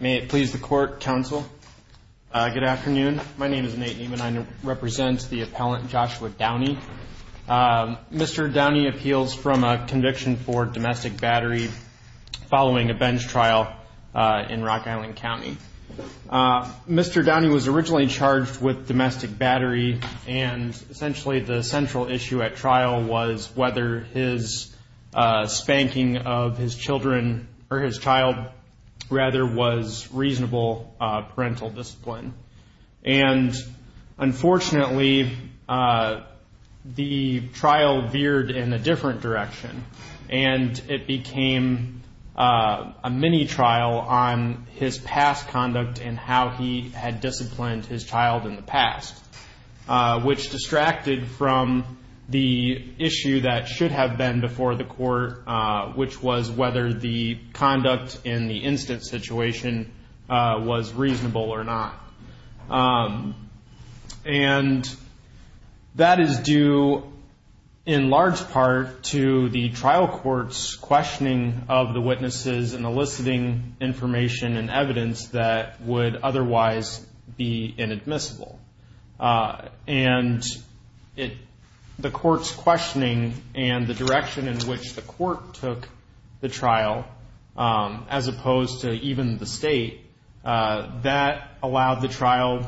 May it please the court, counsel. Good afternoon. My name is Nate Niemann. I represent the appellant Joshua Downey. Mr. Downey appeals from a conviction for domestic battery following a bench trial. Mr. Downey was originally charged with domestic battery and essentially the central issue at trial was whether his spanking of his children or his child rather was reasonable parental discipline. And unfortunately, the trial veered in a different direction and it became a mini trial on his past conduct and how he had disciplined his child in the past, which distracted from the issue that should have been before the court, which was whether the conduct in the instant situation was reasonable or not. And that is due in large part to the trial courts questioning of the witnesses and eliciting information and evidence that would otherwise be inadmissible. And it the court's questioning and the direction in which the court took the trial, as opposed to even the state that allowed the trial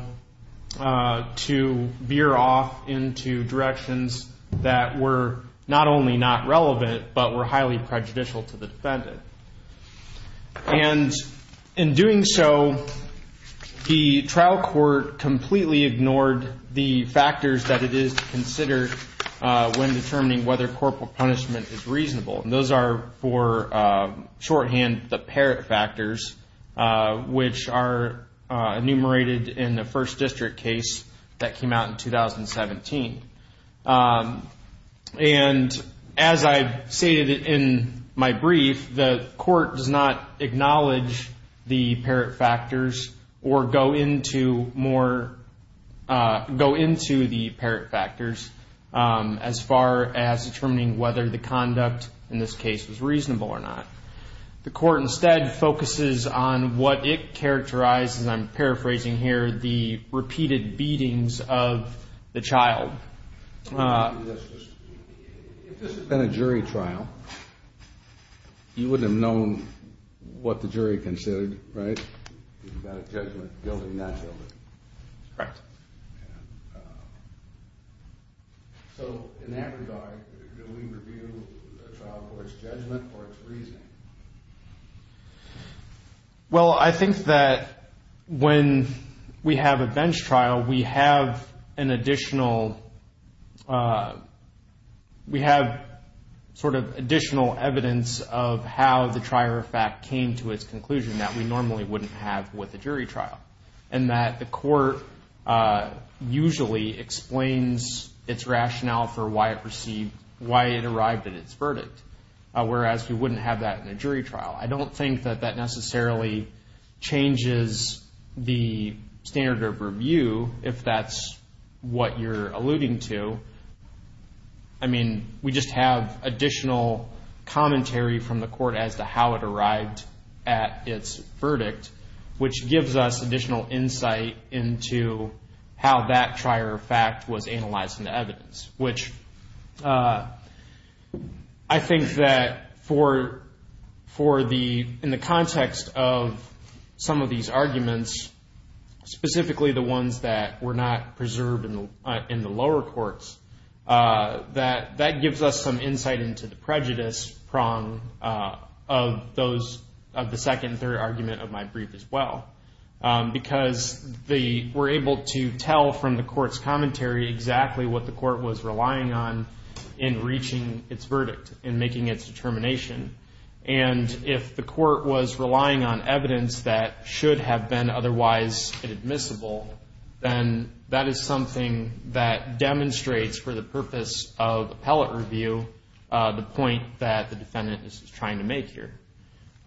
to veer off into directions that were not only not relevant, but were highly prejudicial to the defendant. And in doing so, the trial court completely ignored the factors that it is considered when determining whether corporal punishment is reasonable. And those are for shorthand, the parent factors, which are enumerated in the first district case that came out in 2017. And as I've stated in my brief, the court does not acknowledge the parent factors or go into more, go into the parent factors as far as determining whether the conduct in this case was reasonable or not. The court instead focuses on what it characterized, and I'm paraphrasing here, the repeated beatings of the child. If this had been a jury trial, you wouldn't have known what the jury considered, right? About a judgment, guilty, not guilty. Correct. So in that regard, do we review the trial court's judgment or its reasoning? Well, I think that when we have a bench trial, we have an additional, we have sort of additional evidence of how the trier of fact came to its conclusion that we normally wouldn't have with a jury trial. And that the court usually explains its rationale for why it received, why it arrived at its verdict, whereas we wouldn't have that in a jury trial. I don't think that that necessarily changes the standard of review, if that's what you're alluding to. I mean, we just have additional commentary from the court as to how it arrived at its verdict, which gives us additional insight into how that trier of fact was analyzed into evidence. Which I think that for the, in the context of some of these arguments, specifically the ones that were not preserved in the lower courts, that gives us some insight into the prejudice prong of those, of the second and third argument of my brief as well. Because the, we're able to tell from the court's commentary exactly what the court was relying on in reaching its verdict, in making its determination. And if the court was relying on evidence that should have been otherwise admissible, then that is something that demonstrates for the purpose of appellate review the point that the defendant is trying to make here.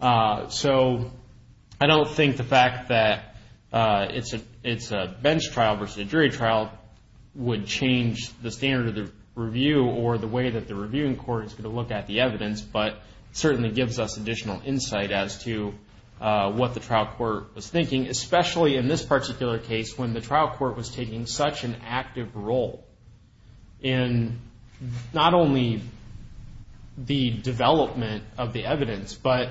So I don't think the fact that it's a bench trial versus a jury trial would change the standard of the review or the way that the reviewing court is going to look at the evidence. But certainly gives us additional insight as to what the trial court was thinking, especially in this particular case when the trial court was taking such an active role in not only the development of the evidence, but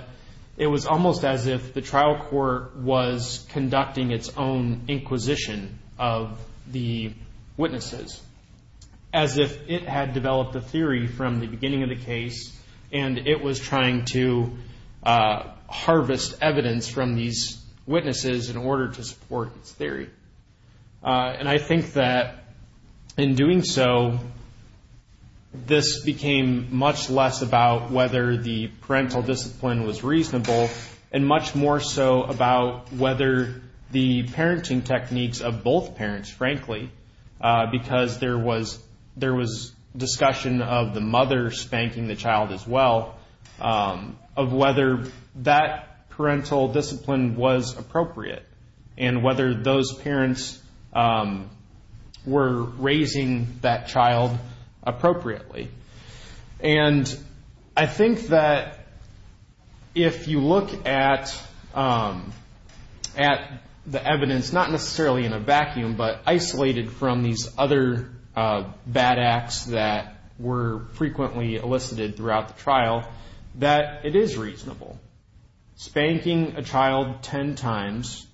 it was almost as if the trial court was conducting its own inquisition of the witnesses. As if it had developed a theory from the beginning of the case and it was trying to harvest evidence from these witnesses in order to support its theory. And I think that in doing so, this became much less about whether the parental discipline was reasonable and much more so about whether the parenting techniques of both parents, frankly, because there was discussion of the mother spanking the child as well, of whether that parental discipline was appropriate. And whether those parents were raising that child appropriately. And I think that if you look at the evidence, not necessarily in a vacuum, but isolated from these other bad acts that were frequently elicited throughout the trial, that it is reasonable. Spanking a child ten times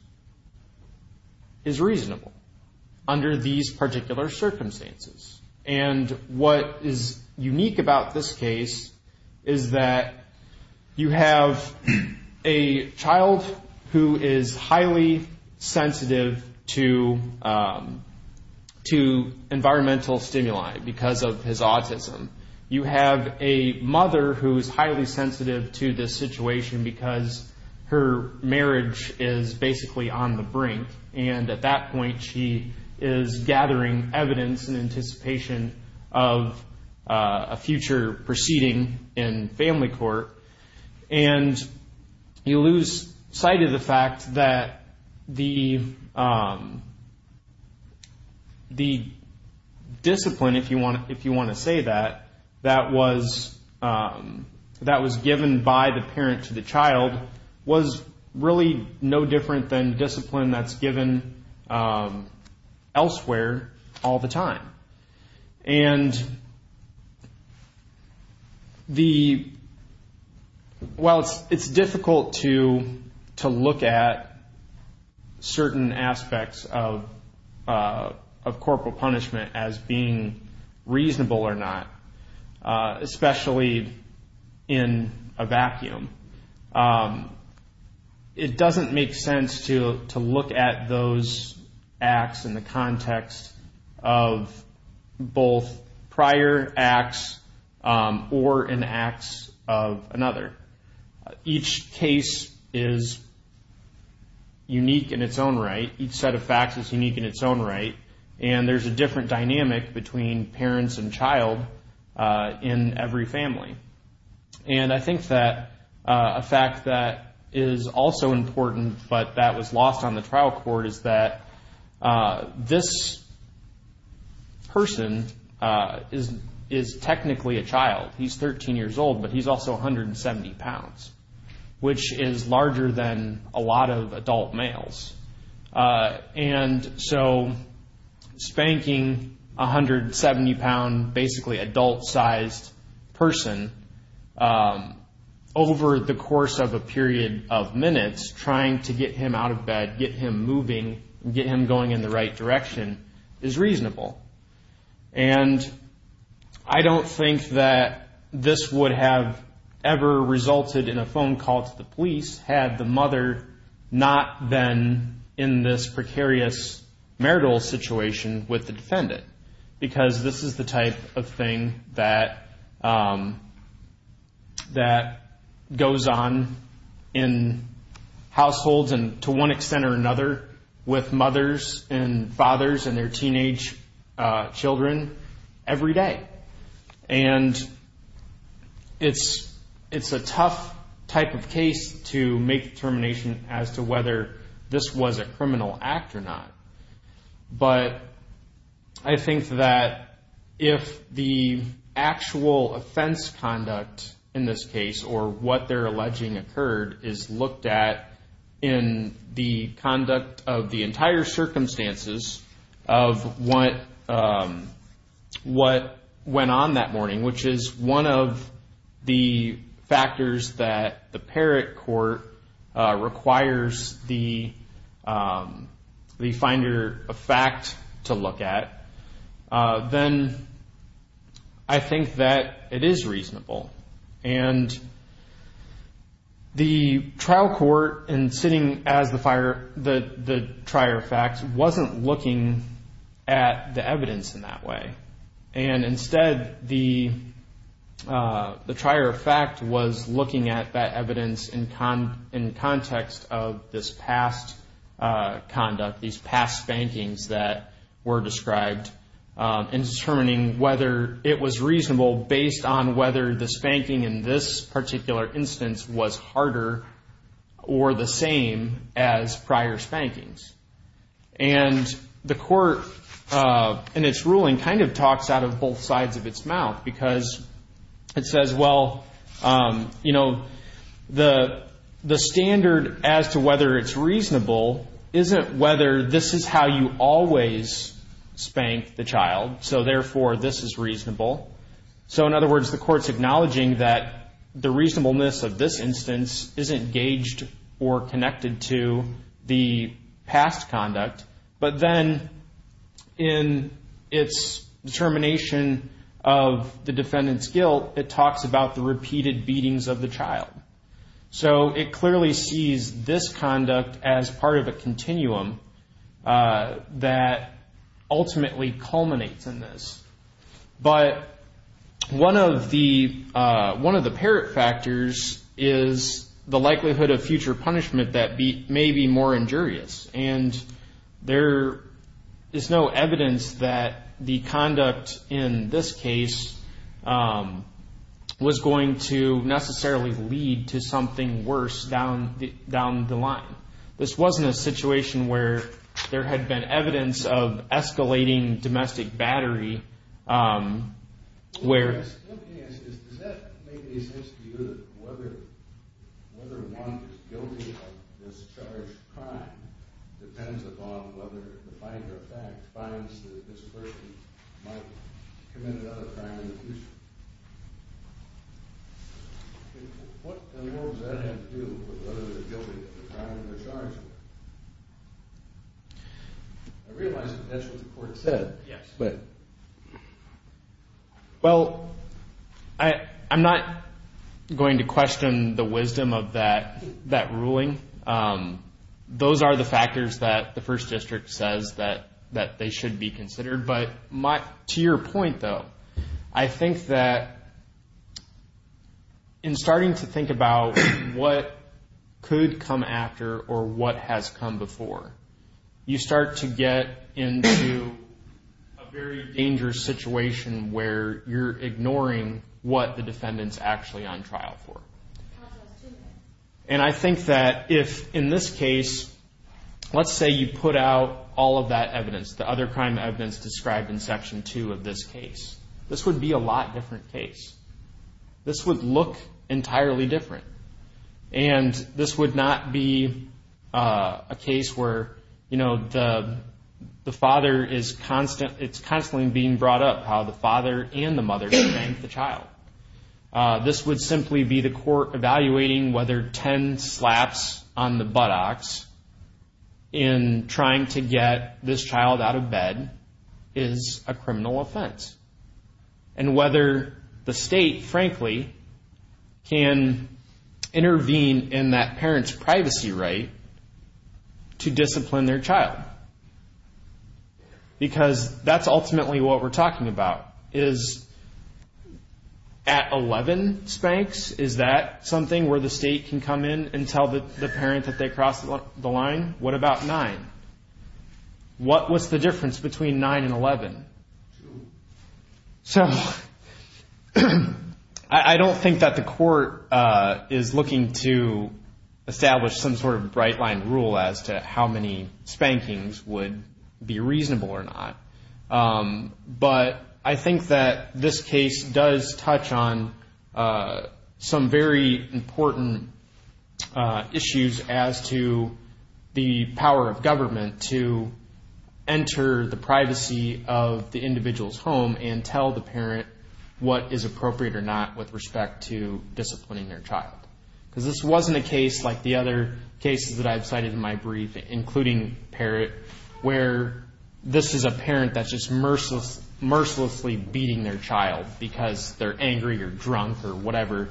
is reasonable under these particular circumstances. And what is unique about this case is that you have a child who is highly sensitive to environmental stimuli because of his autism. You have a mother who is highly sensitive to this situation because her marriage is basically on the brink and at that point she is gathering evidence in anticipation of a future proceeding in family court. And you lose sight of the fact that the discipline, if you want to say that, that was given by the parent to the child was really no different than discipline that's given elsewhere all the time. And while it's difficult to look at certain aspects of corporal punishment as being reasonable or not, especially in a vacuum, it doesn't make sense to look at those acts in the context of both prior acts or in acts of another. Each case is unique in its own right. Each set of facts is unique in its own right. And there's a different dynamic between parents and child in every family. And I think that a fact that is also important but that was lost on the trial court is that this person is technically a child. He's 13 years old, but he's also 170 pounds, which is larger than a lot of adult males. And so spanking a 170-pound, basically adult-sized person over the course of a period of minutes trying to get him out of bed, get him moving, get him going in the right direction is reasonable. And I don't think that this would have ever resulted in a phone call to the police had the mother not been in this precarious marital situation with the defendant. Because this is the type of thing that goes on in households, and to one extent or another, with mothers and fathers and their teenage children every day. And it's a tough type of case to make determination as to whether this was a criminal act or not. But I think that if the actual offense conduct in this case or what they're alleging occurred is looked at in the conduct of the entire circumstances of what went on that morning, which is one of the factors that the Parrott court requires the finder of fact to look at, then I think that it is reasonable. And the trial court in sitting as the trier of facts wasn't looking at the evidence in that way. And instead, the trier of fact was looking at that evidence in context of this past conduct, these past spankings that were described, and determining whether it was reasonable based on whether the spanking in this particular instance was harder or the same as prior spankings. And the court, in its ruling, kind of talks out of both sides of its mouth. Because it says, well, you know, the standard as to whether it's reasonable isn't whether this is how you always spank the child. So therefore, this is reasonable. So in other words, the court's acknowledging that the reasonableness of this instance isn't gauged or connected to the past conduct. But then in its determination of the defendant's guilt, it talks about the repeated beatings of the child. So it clearly sees this conduct as part of a continuum that ultimately culminates in this. But one of the parrot factors is the likelihood of future punishment that may be more injurious. And there is no evidence that the conduct in this case was going to necessarily lead to something worse down the line. This wasn't a situation where there had been evidence of escalating domestic battery. What I'm asking is, does that make any sense to you that whether one is guilty of this charged crime depends upon whether the fact finds that this person might commit another crime in the future? What in the world does that have to do with whether they're guilty of the crime they're charged with? I realize that that's what the court said. Yes. Well, I'm not going to question the wisdom of that ruling. Those are the factors that the First District says that they should be considered. To your point, though, I think that in starting to think about what could come after or what has come before, you start to get into a very dangerous situation where you're ignoring what the defendant's actually on trial for. And I think that if in this case, let's say you put out all of that evidence, the other crime evidence described in Section 2 of this case, this would be a lot different case. This would look entirely different. And this would not be a case where, you know, the father is constantly being brought up how the father and the mother strangled the child. This would simply be the court evaluating whether 10 slaps on the buttocks in trying to get this child out of bed is a criminal offense. And whether the state, frankly, can intervene in that parent's privacy right to discipline their child. Because that's ultimately what we're talking about. Is at 11 spanks, is that something where the state can come in and tell the parent that they crossed the line? What about 9? What was the difference between 9 and 11? So I don't think that the court is looking to establish some sort of bright line rule as to how many spankings would be reasonable or not. But I think that this case does touch on some very important issues as to the power of government to enter the privacy of the individual's home and tell the parent what is appropriate or not with respect to disciplining their child. Because this wasn't a case like the other cases that I've cited in my brief, including Parrott, where this is a parent that's just mercilessly beating their child because they're angry or drunk or whatever.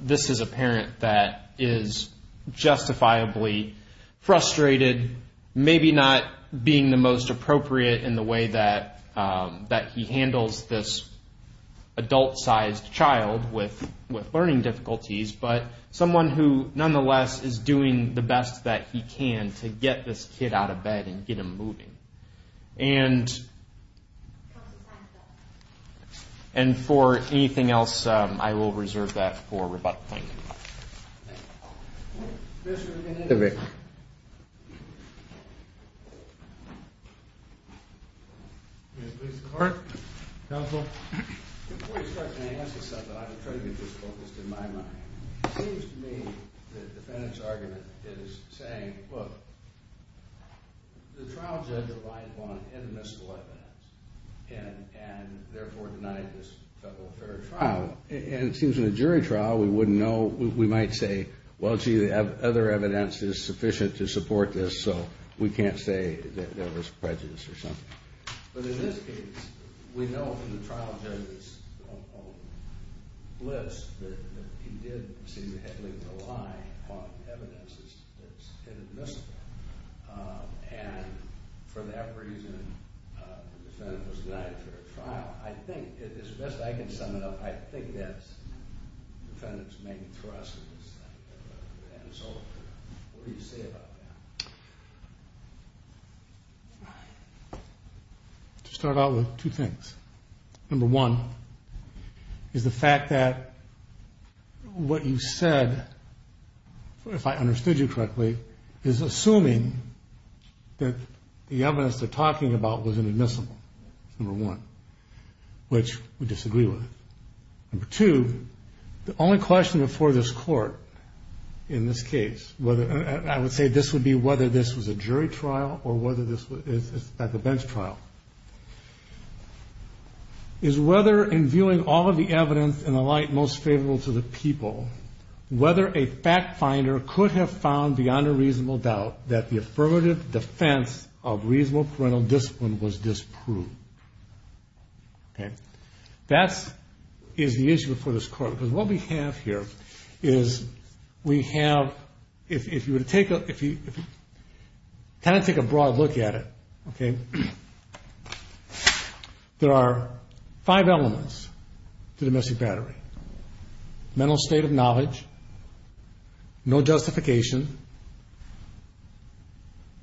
This is a parent that is justifiably frustrated, maybe not being the most appropriate in the way that he handles this adult-sized child with learning difficulties. But someone who, nonetheless, is doing the best that he can to get this kid out of bed and get him moving. And for anything else, I will reserve that for rebuttal. Thank you. Mr. McIntyre? May I please have the court? Counsel? Before you start, can I ask you something? I'm trying to get this focused in my mind. It seems to me that the defendant's argument is saying, look, the trial judge relied on inimitable evidence and therefore denied this federal fair trial. And it seems in a jury trial, we might say, well, gee, the other evidence is sufficient to support this, so we can't say that there was prejudice or something. But in this case, we know from the trial judge's list that he did seem heavily reliant on evidence that's inadmissible. And for that reason, the defendant was denied a fair trial. I think, as best I can sum it up, I think that the defendant's main thrust is that. And so what do you say about that? To start out with two things. Number one is the fact that what you said, if I understood you correctly, is assuming that the evidence they're talking about was inadmissible. Number one, which we disagree with. Number two, the only question before this court in this case, I would say this would be whether this was a jury trial or whether this was at the bench trial, is whether in viewing all of the evidence in the light most favorable to the people, whether a fact finder could have found beyond a reasonable doubt that the affirmative defense of reasonable parental discipline was disproved. That is the issue before this court. Because what we have here is we have, if you were to take a kind of take a broad look at it, there are five elements to domestic battery. Mental state of knowledge, no justification,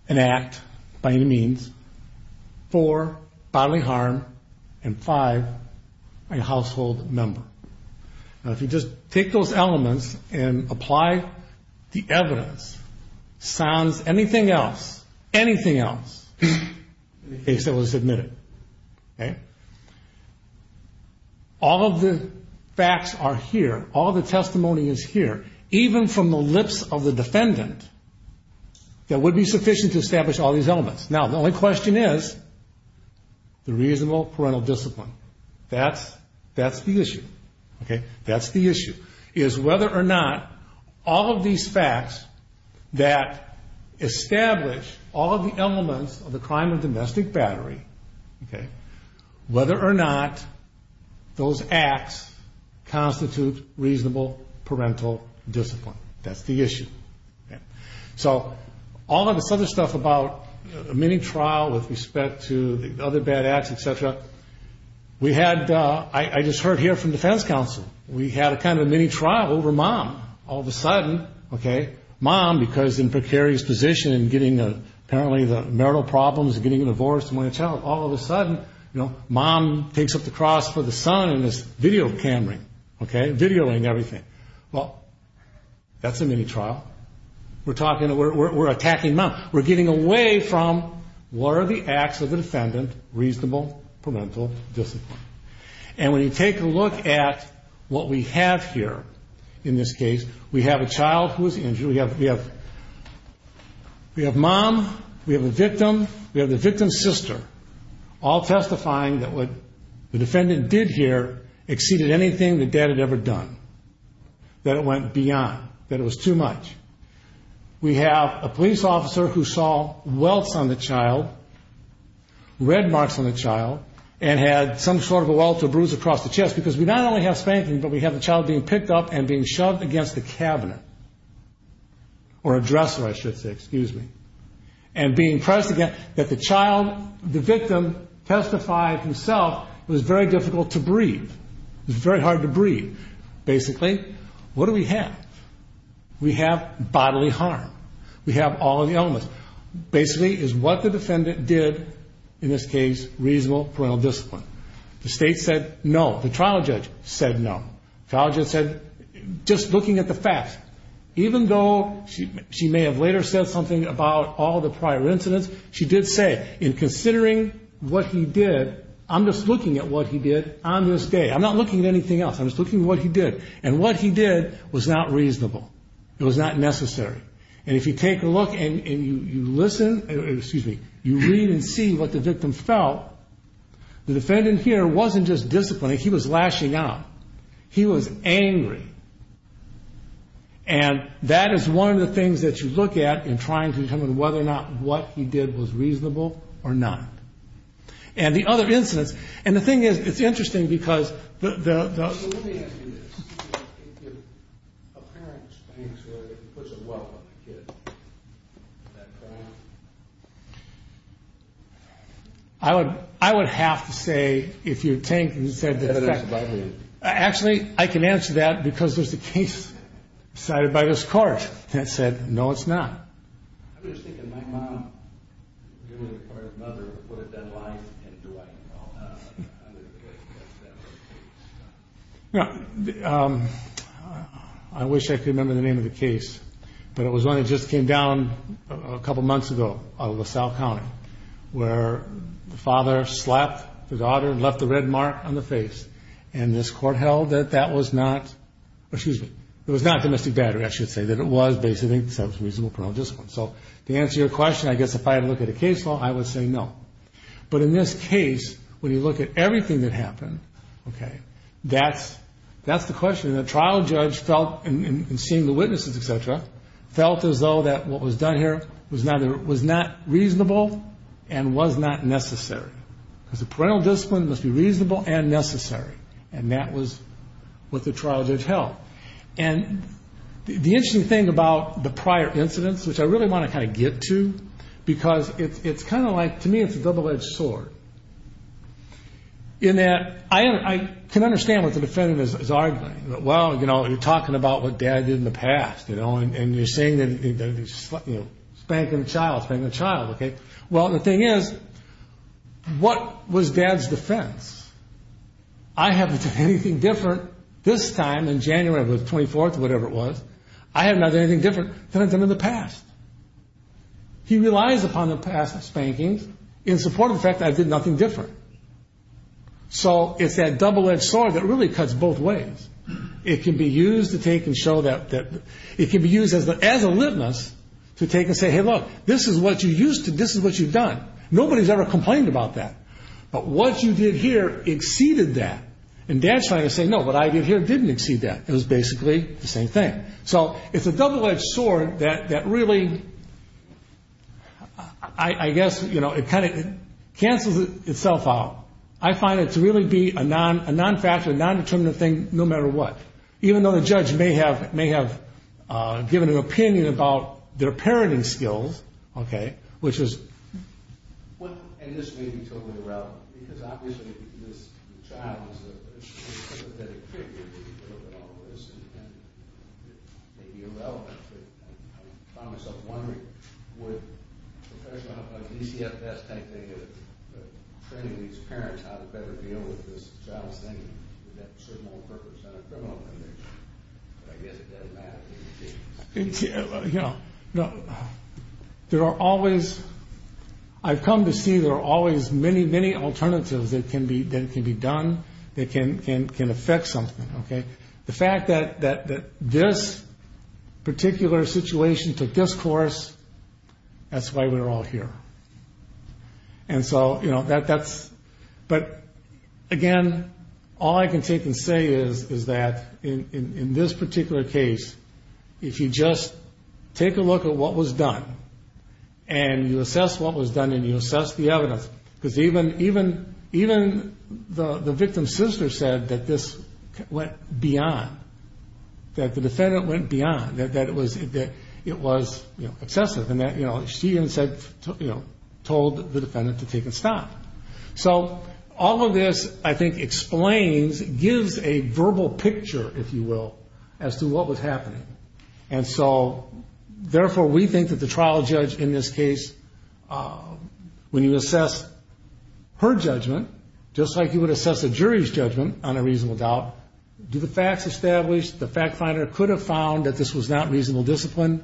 an act by any means, four, bodily harm, and five, a household member. Now, if you just take those elements and apply the evidence, sounds anything else, anything else, the case that was admitted. All of the facts are here. All of the testimony is here, even from the lips of the defendant, that would be sufficient to establish all these elements. Now, the only question is the reasonable parental discipline. That's the issue. That's the issue, is whether or not all of these facts that establish all of the elements of the crime of domestic battery, whether or not those acts constitute reasonable parental discipline. That's the issue. So all of this other stuff about mini-trial with respect to the other bad acts, et cetera, we had, I just heard here from defense counsel, we had a kind of a mini-trial over mom. All of a sudden, okay, mom, because in precarious position, getting apparently the marital problems, getting a divorce, all of a sudden, you know, mom takes up the cross for the son in this video camera, okay, videoing everything. Well, that's a mini-trial. We're talking, we're attacking mom. We're getting away from were the acts of the defendant reasonable parental discipline. And when you take a look at what we have here in this case, we have a child who was injured, we have mom, we have a victim, we have the victim's sister, all testifying that what the defendant did here exceeded anything the dad had ever done, that it went beyond, that it was too much. We have a police officer who saw welts on the child, red marks on the child, and had some sort of a welt or bruise across the chest, because we not only have spanking, but we have the child being picked up and being shoved against the cabinet, or a dresser, I should say, excuse me, and being pressed against, that the child, the victim testified himself it was very difficult to breathe, it was very hard to breathe. Basically, what do we have? We have bodily harm. We have all of the elements. Basically, it's what the defendant did, in this case, reasonable parental discipline. The state said no. The trial judge said no. The trial judge said, just looking at the facts. Even though she may have later said something about all the prior incidents, she did say, in considering what he did, I'm just looking at what he did on this day. I'm not looking at anything else. I'm just looking at what he did. And what he did was not reasonable. It was not necessary. And if you take a look and you listen, excuse me, you read and see what the victim felt, the defendant here wasn't just disciplining, he was lashing out. He was angry. And that is one of the things that you look at in trying to determine whether or not what he did was reasonable or not. And the other incidents, and the thing is, it's interesting because the... I would have to say, if you think... Actually, I can answer that because there's a case decided by this court that said, no, it's not. I'm just thinking, my mom, or his mother, would have been lying to him. I wish I could remember the name of the case. But it was one that just came down a couple months ago out of LaSalle County, where the father slapped the daughter and left the red mark on the face. And this court held that that was not... To answer your question, I guess if I had to look at a case law, I would say no. But in this case, when you look at everything that happened, that's the question. And the trial judge felt, in seeing the witnesses, et cetera, felt as though that what was done here was not reasonable and was not necessary. Because the parental discipline must be reasonable and necessary. And that was what the trial judge held. And the interesting thing about the prior incidents, which I really want to kind of get to, because it's kind of like, to me, it's a double-edged sword. In that I can understand what the defendant is arguing. Well, you know, you're talking about what Dad did in the past, you know, and you're saying that he's spanking the child, spanking the child. Well, the thing is, what was Dad's defense? I haven't done anything different this time in January, the 24th or whatever it was, I haven't done anything different than I've done in the past. He relies upon the past spankings in support of the fact that I did nothing different. So it's that double-edged sword that really cuts both ways. It can be used to take and show that... It can be used as a litmus to take and say, hey, look, this is what you used to, this is what you've done. Nobody's ever complained about that. But what you did here exceeded that. And Dad's trying to say, no, what I did here didn't exceed that. It was basically the same thing. So it's a double-edged sword that really, I guess, you know, it kind of cancels itself out. I find it to really be a non-factual, non-determinative thing no matter what, even though the judge may have given an opinion about their parenting skills, okay, which is... It's irrelevant, because obviously this child is a sympathetic figure and all of this, and it may be irrelevant. I find myself wondering, would a professional, a DCFS type thing, training these parents how to better deal with this child's thinking? That shouldn't all represent a criminal image. But I guess it doesn't matter. You know, there are always... I've come to see there are always many, many alternatives that can be done, that can affect something, okay? The fact that this particular situation took this course, that's why we're all here. And so, you know, that's... But again, all I can take and say is that in this particular case, if you just take a look at what was done and you assess what was done and you assess the evidence, because even the victim's sister said that this went beyond, that the defendant went beyond, that it was excessive, and that she even told the defendant to take a stop. So all of this, I think, explains, gives a verbal picture, if you will, as to what was happening. And so, therefore, we think that the trial judge in this case, when you assess her judgment, just like you would assess a jury's judgment on a reasonable doubt, do the facts establish, the fact finder could have found that this was not reasonable discipline.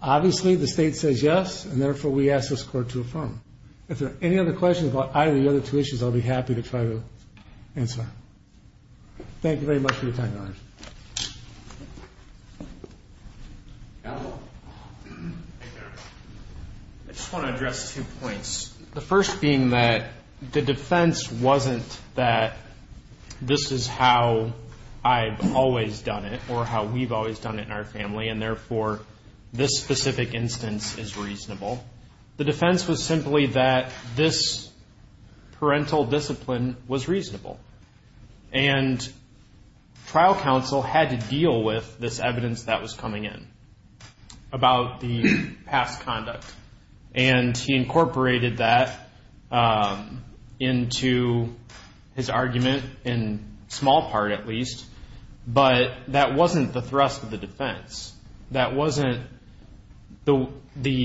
Obviously, the state says yes, and therefore, we ask this Court to affirm. If there are any other questions about either of the other two issues, I'll be happy to try to answer. Thank you very much for your time, Your Honor. I just want to address two points. The first being that the defense wasn't that this is how I've always done it or how we've always done it in our family, and therefore, this specific instance is reasonable. The defense was simply that this parental discipline was reasonable, and trial counsel had to deal with this evidence that was coming in about the past conduct. And he incorporated that into his argument, in small part at least, but that wasn't the thrust of the defense. That wasn't the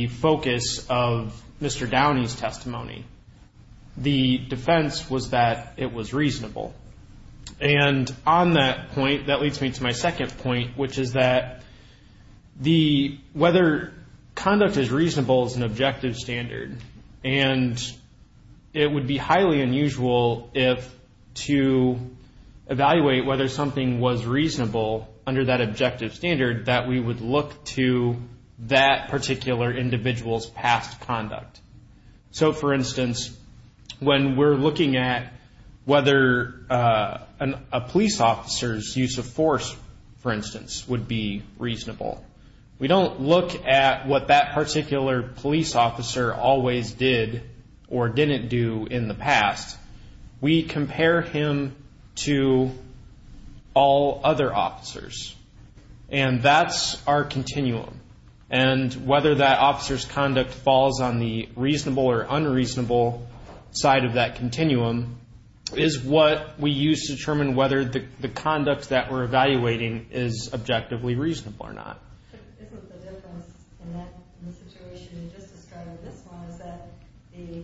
focus of Mr. Downey's testimony. The defense was that it was reasonable. And on that point, that leads me to my second point, which is that whether conduct is reasonable is an objective standard, and it would be highly unusual to evaluate whether something was reasonable under that objective standard that we would look to that particular individual's past conduct. So, for instance, when we're looking at whether a police officer's use of force, for instance, would be reasonable, we don't look at what that particular police officer always did or didn't do in the past. We compare him to all other officers, and that's our continuum. And whether that officer's conduct falls on the reasonable or unreasonable side of that continuum is what we use to determine whether the conduct that we're evaluating is objectively reasonable or not. Isn't the difference in the situation you just described with this one is that the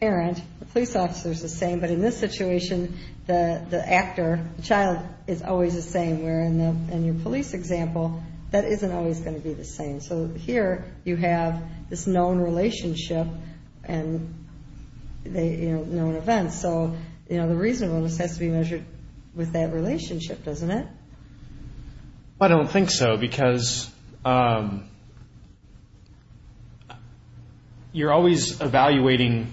parent, the police officer, is the same, but in this situation, the actor, the child, is always the same, where in your police example, that isn't always going to be the same. So here, you have this known relationship and known events, so the reasonableness has to be measured with that relationship, doesn't it? I don't think so, because you're always evaluating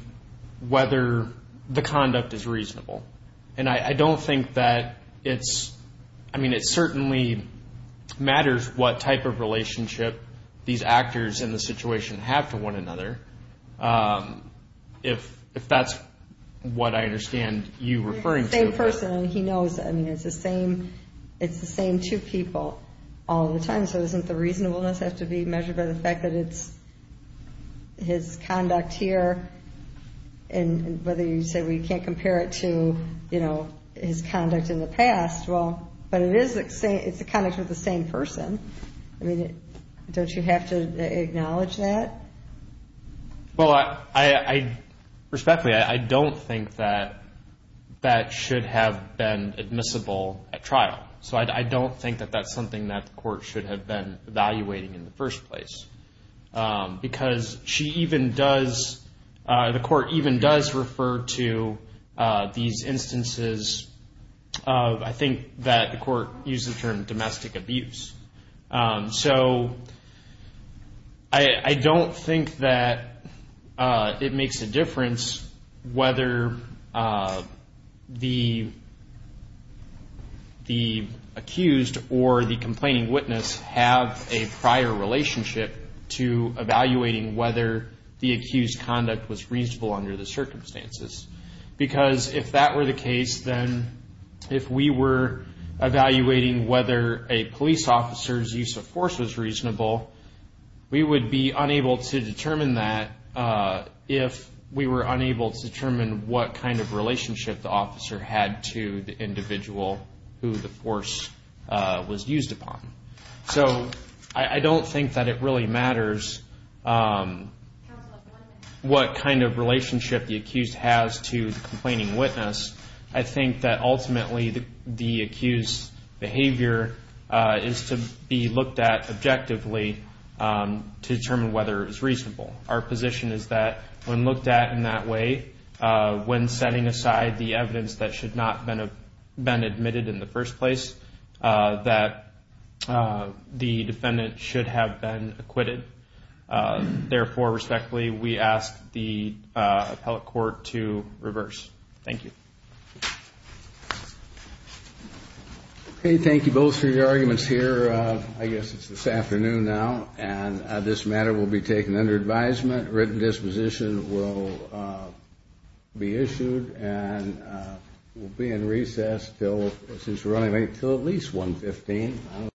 whether the conduct is reasonable. And I don't think that it's, I mean, it certainly matters what type of relationship these actors in the situation have to one another, if that's what I understand you referring to. He's the same person, and he knows, I mean, it's the same two people all the time, so doesn't the reasonableness have to be measured by the fact that it's his conduct here, and whether you say, well, you can't compare it to his conduct in the past, well, but it's the conduct with the same person. I mean, don't you have to acknowledge that? Well, respectfully, I don't think that that should have been admissible at trial, so I don't think that that's something that the court should have been evaluating in the first place, because she even does, the court even does refer to these instances of, I think that the court uses the term domestic abuse. So I don't think that it makes a difference whether the accused or the complaining witness have a prior relationship to evaluating whether the accused conduct was reasonable under the circumstances, because if that were the case, then if we were evaluating whether a police officer's use of force was reasonable, we would be unable to determine that if we were unable to determine what kind of relationship the officer had to the individual who the force was used upon. So I don't think that it really matters what kind of relationship the accused has to the complaining witness. I think that ultimately the accused's behavior is to be looked at objectively to determine whether it was reasonable. Our position is that when looked at in that way, when setting aside the evidence that should not have been admitted in the first place, that the defendant should have been acquitted. Therefore, respectfully, we ask the appellate court to reverse. Thank you. Okay, thank you both for your arguments here. I guess it's this afternoon now, and this matter will be taken under advisement. A written disposition will be issued and will be in recess until at least 1 p.m.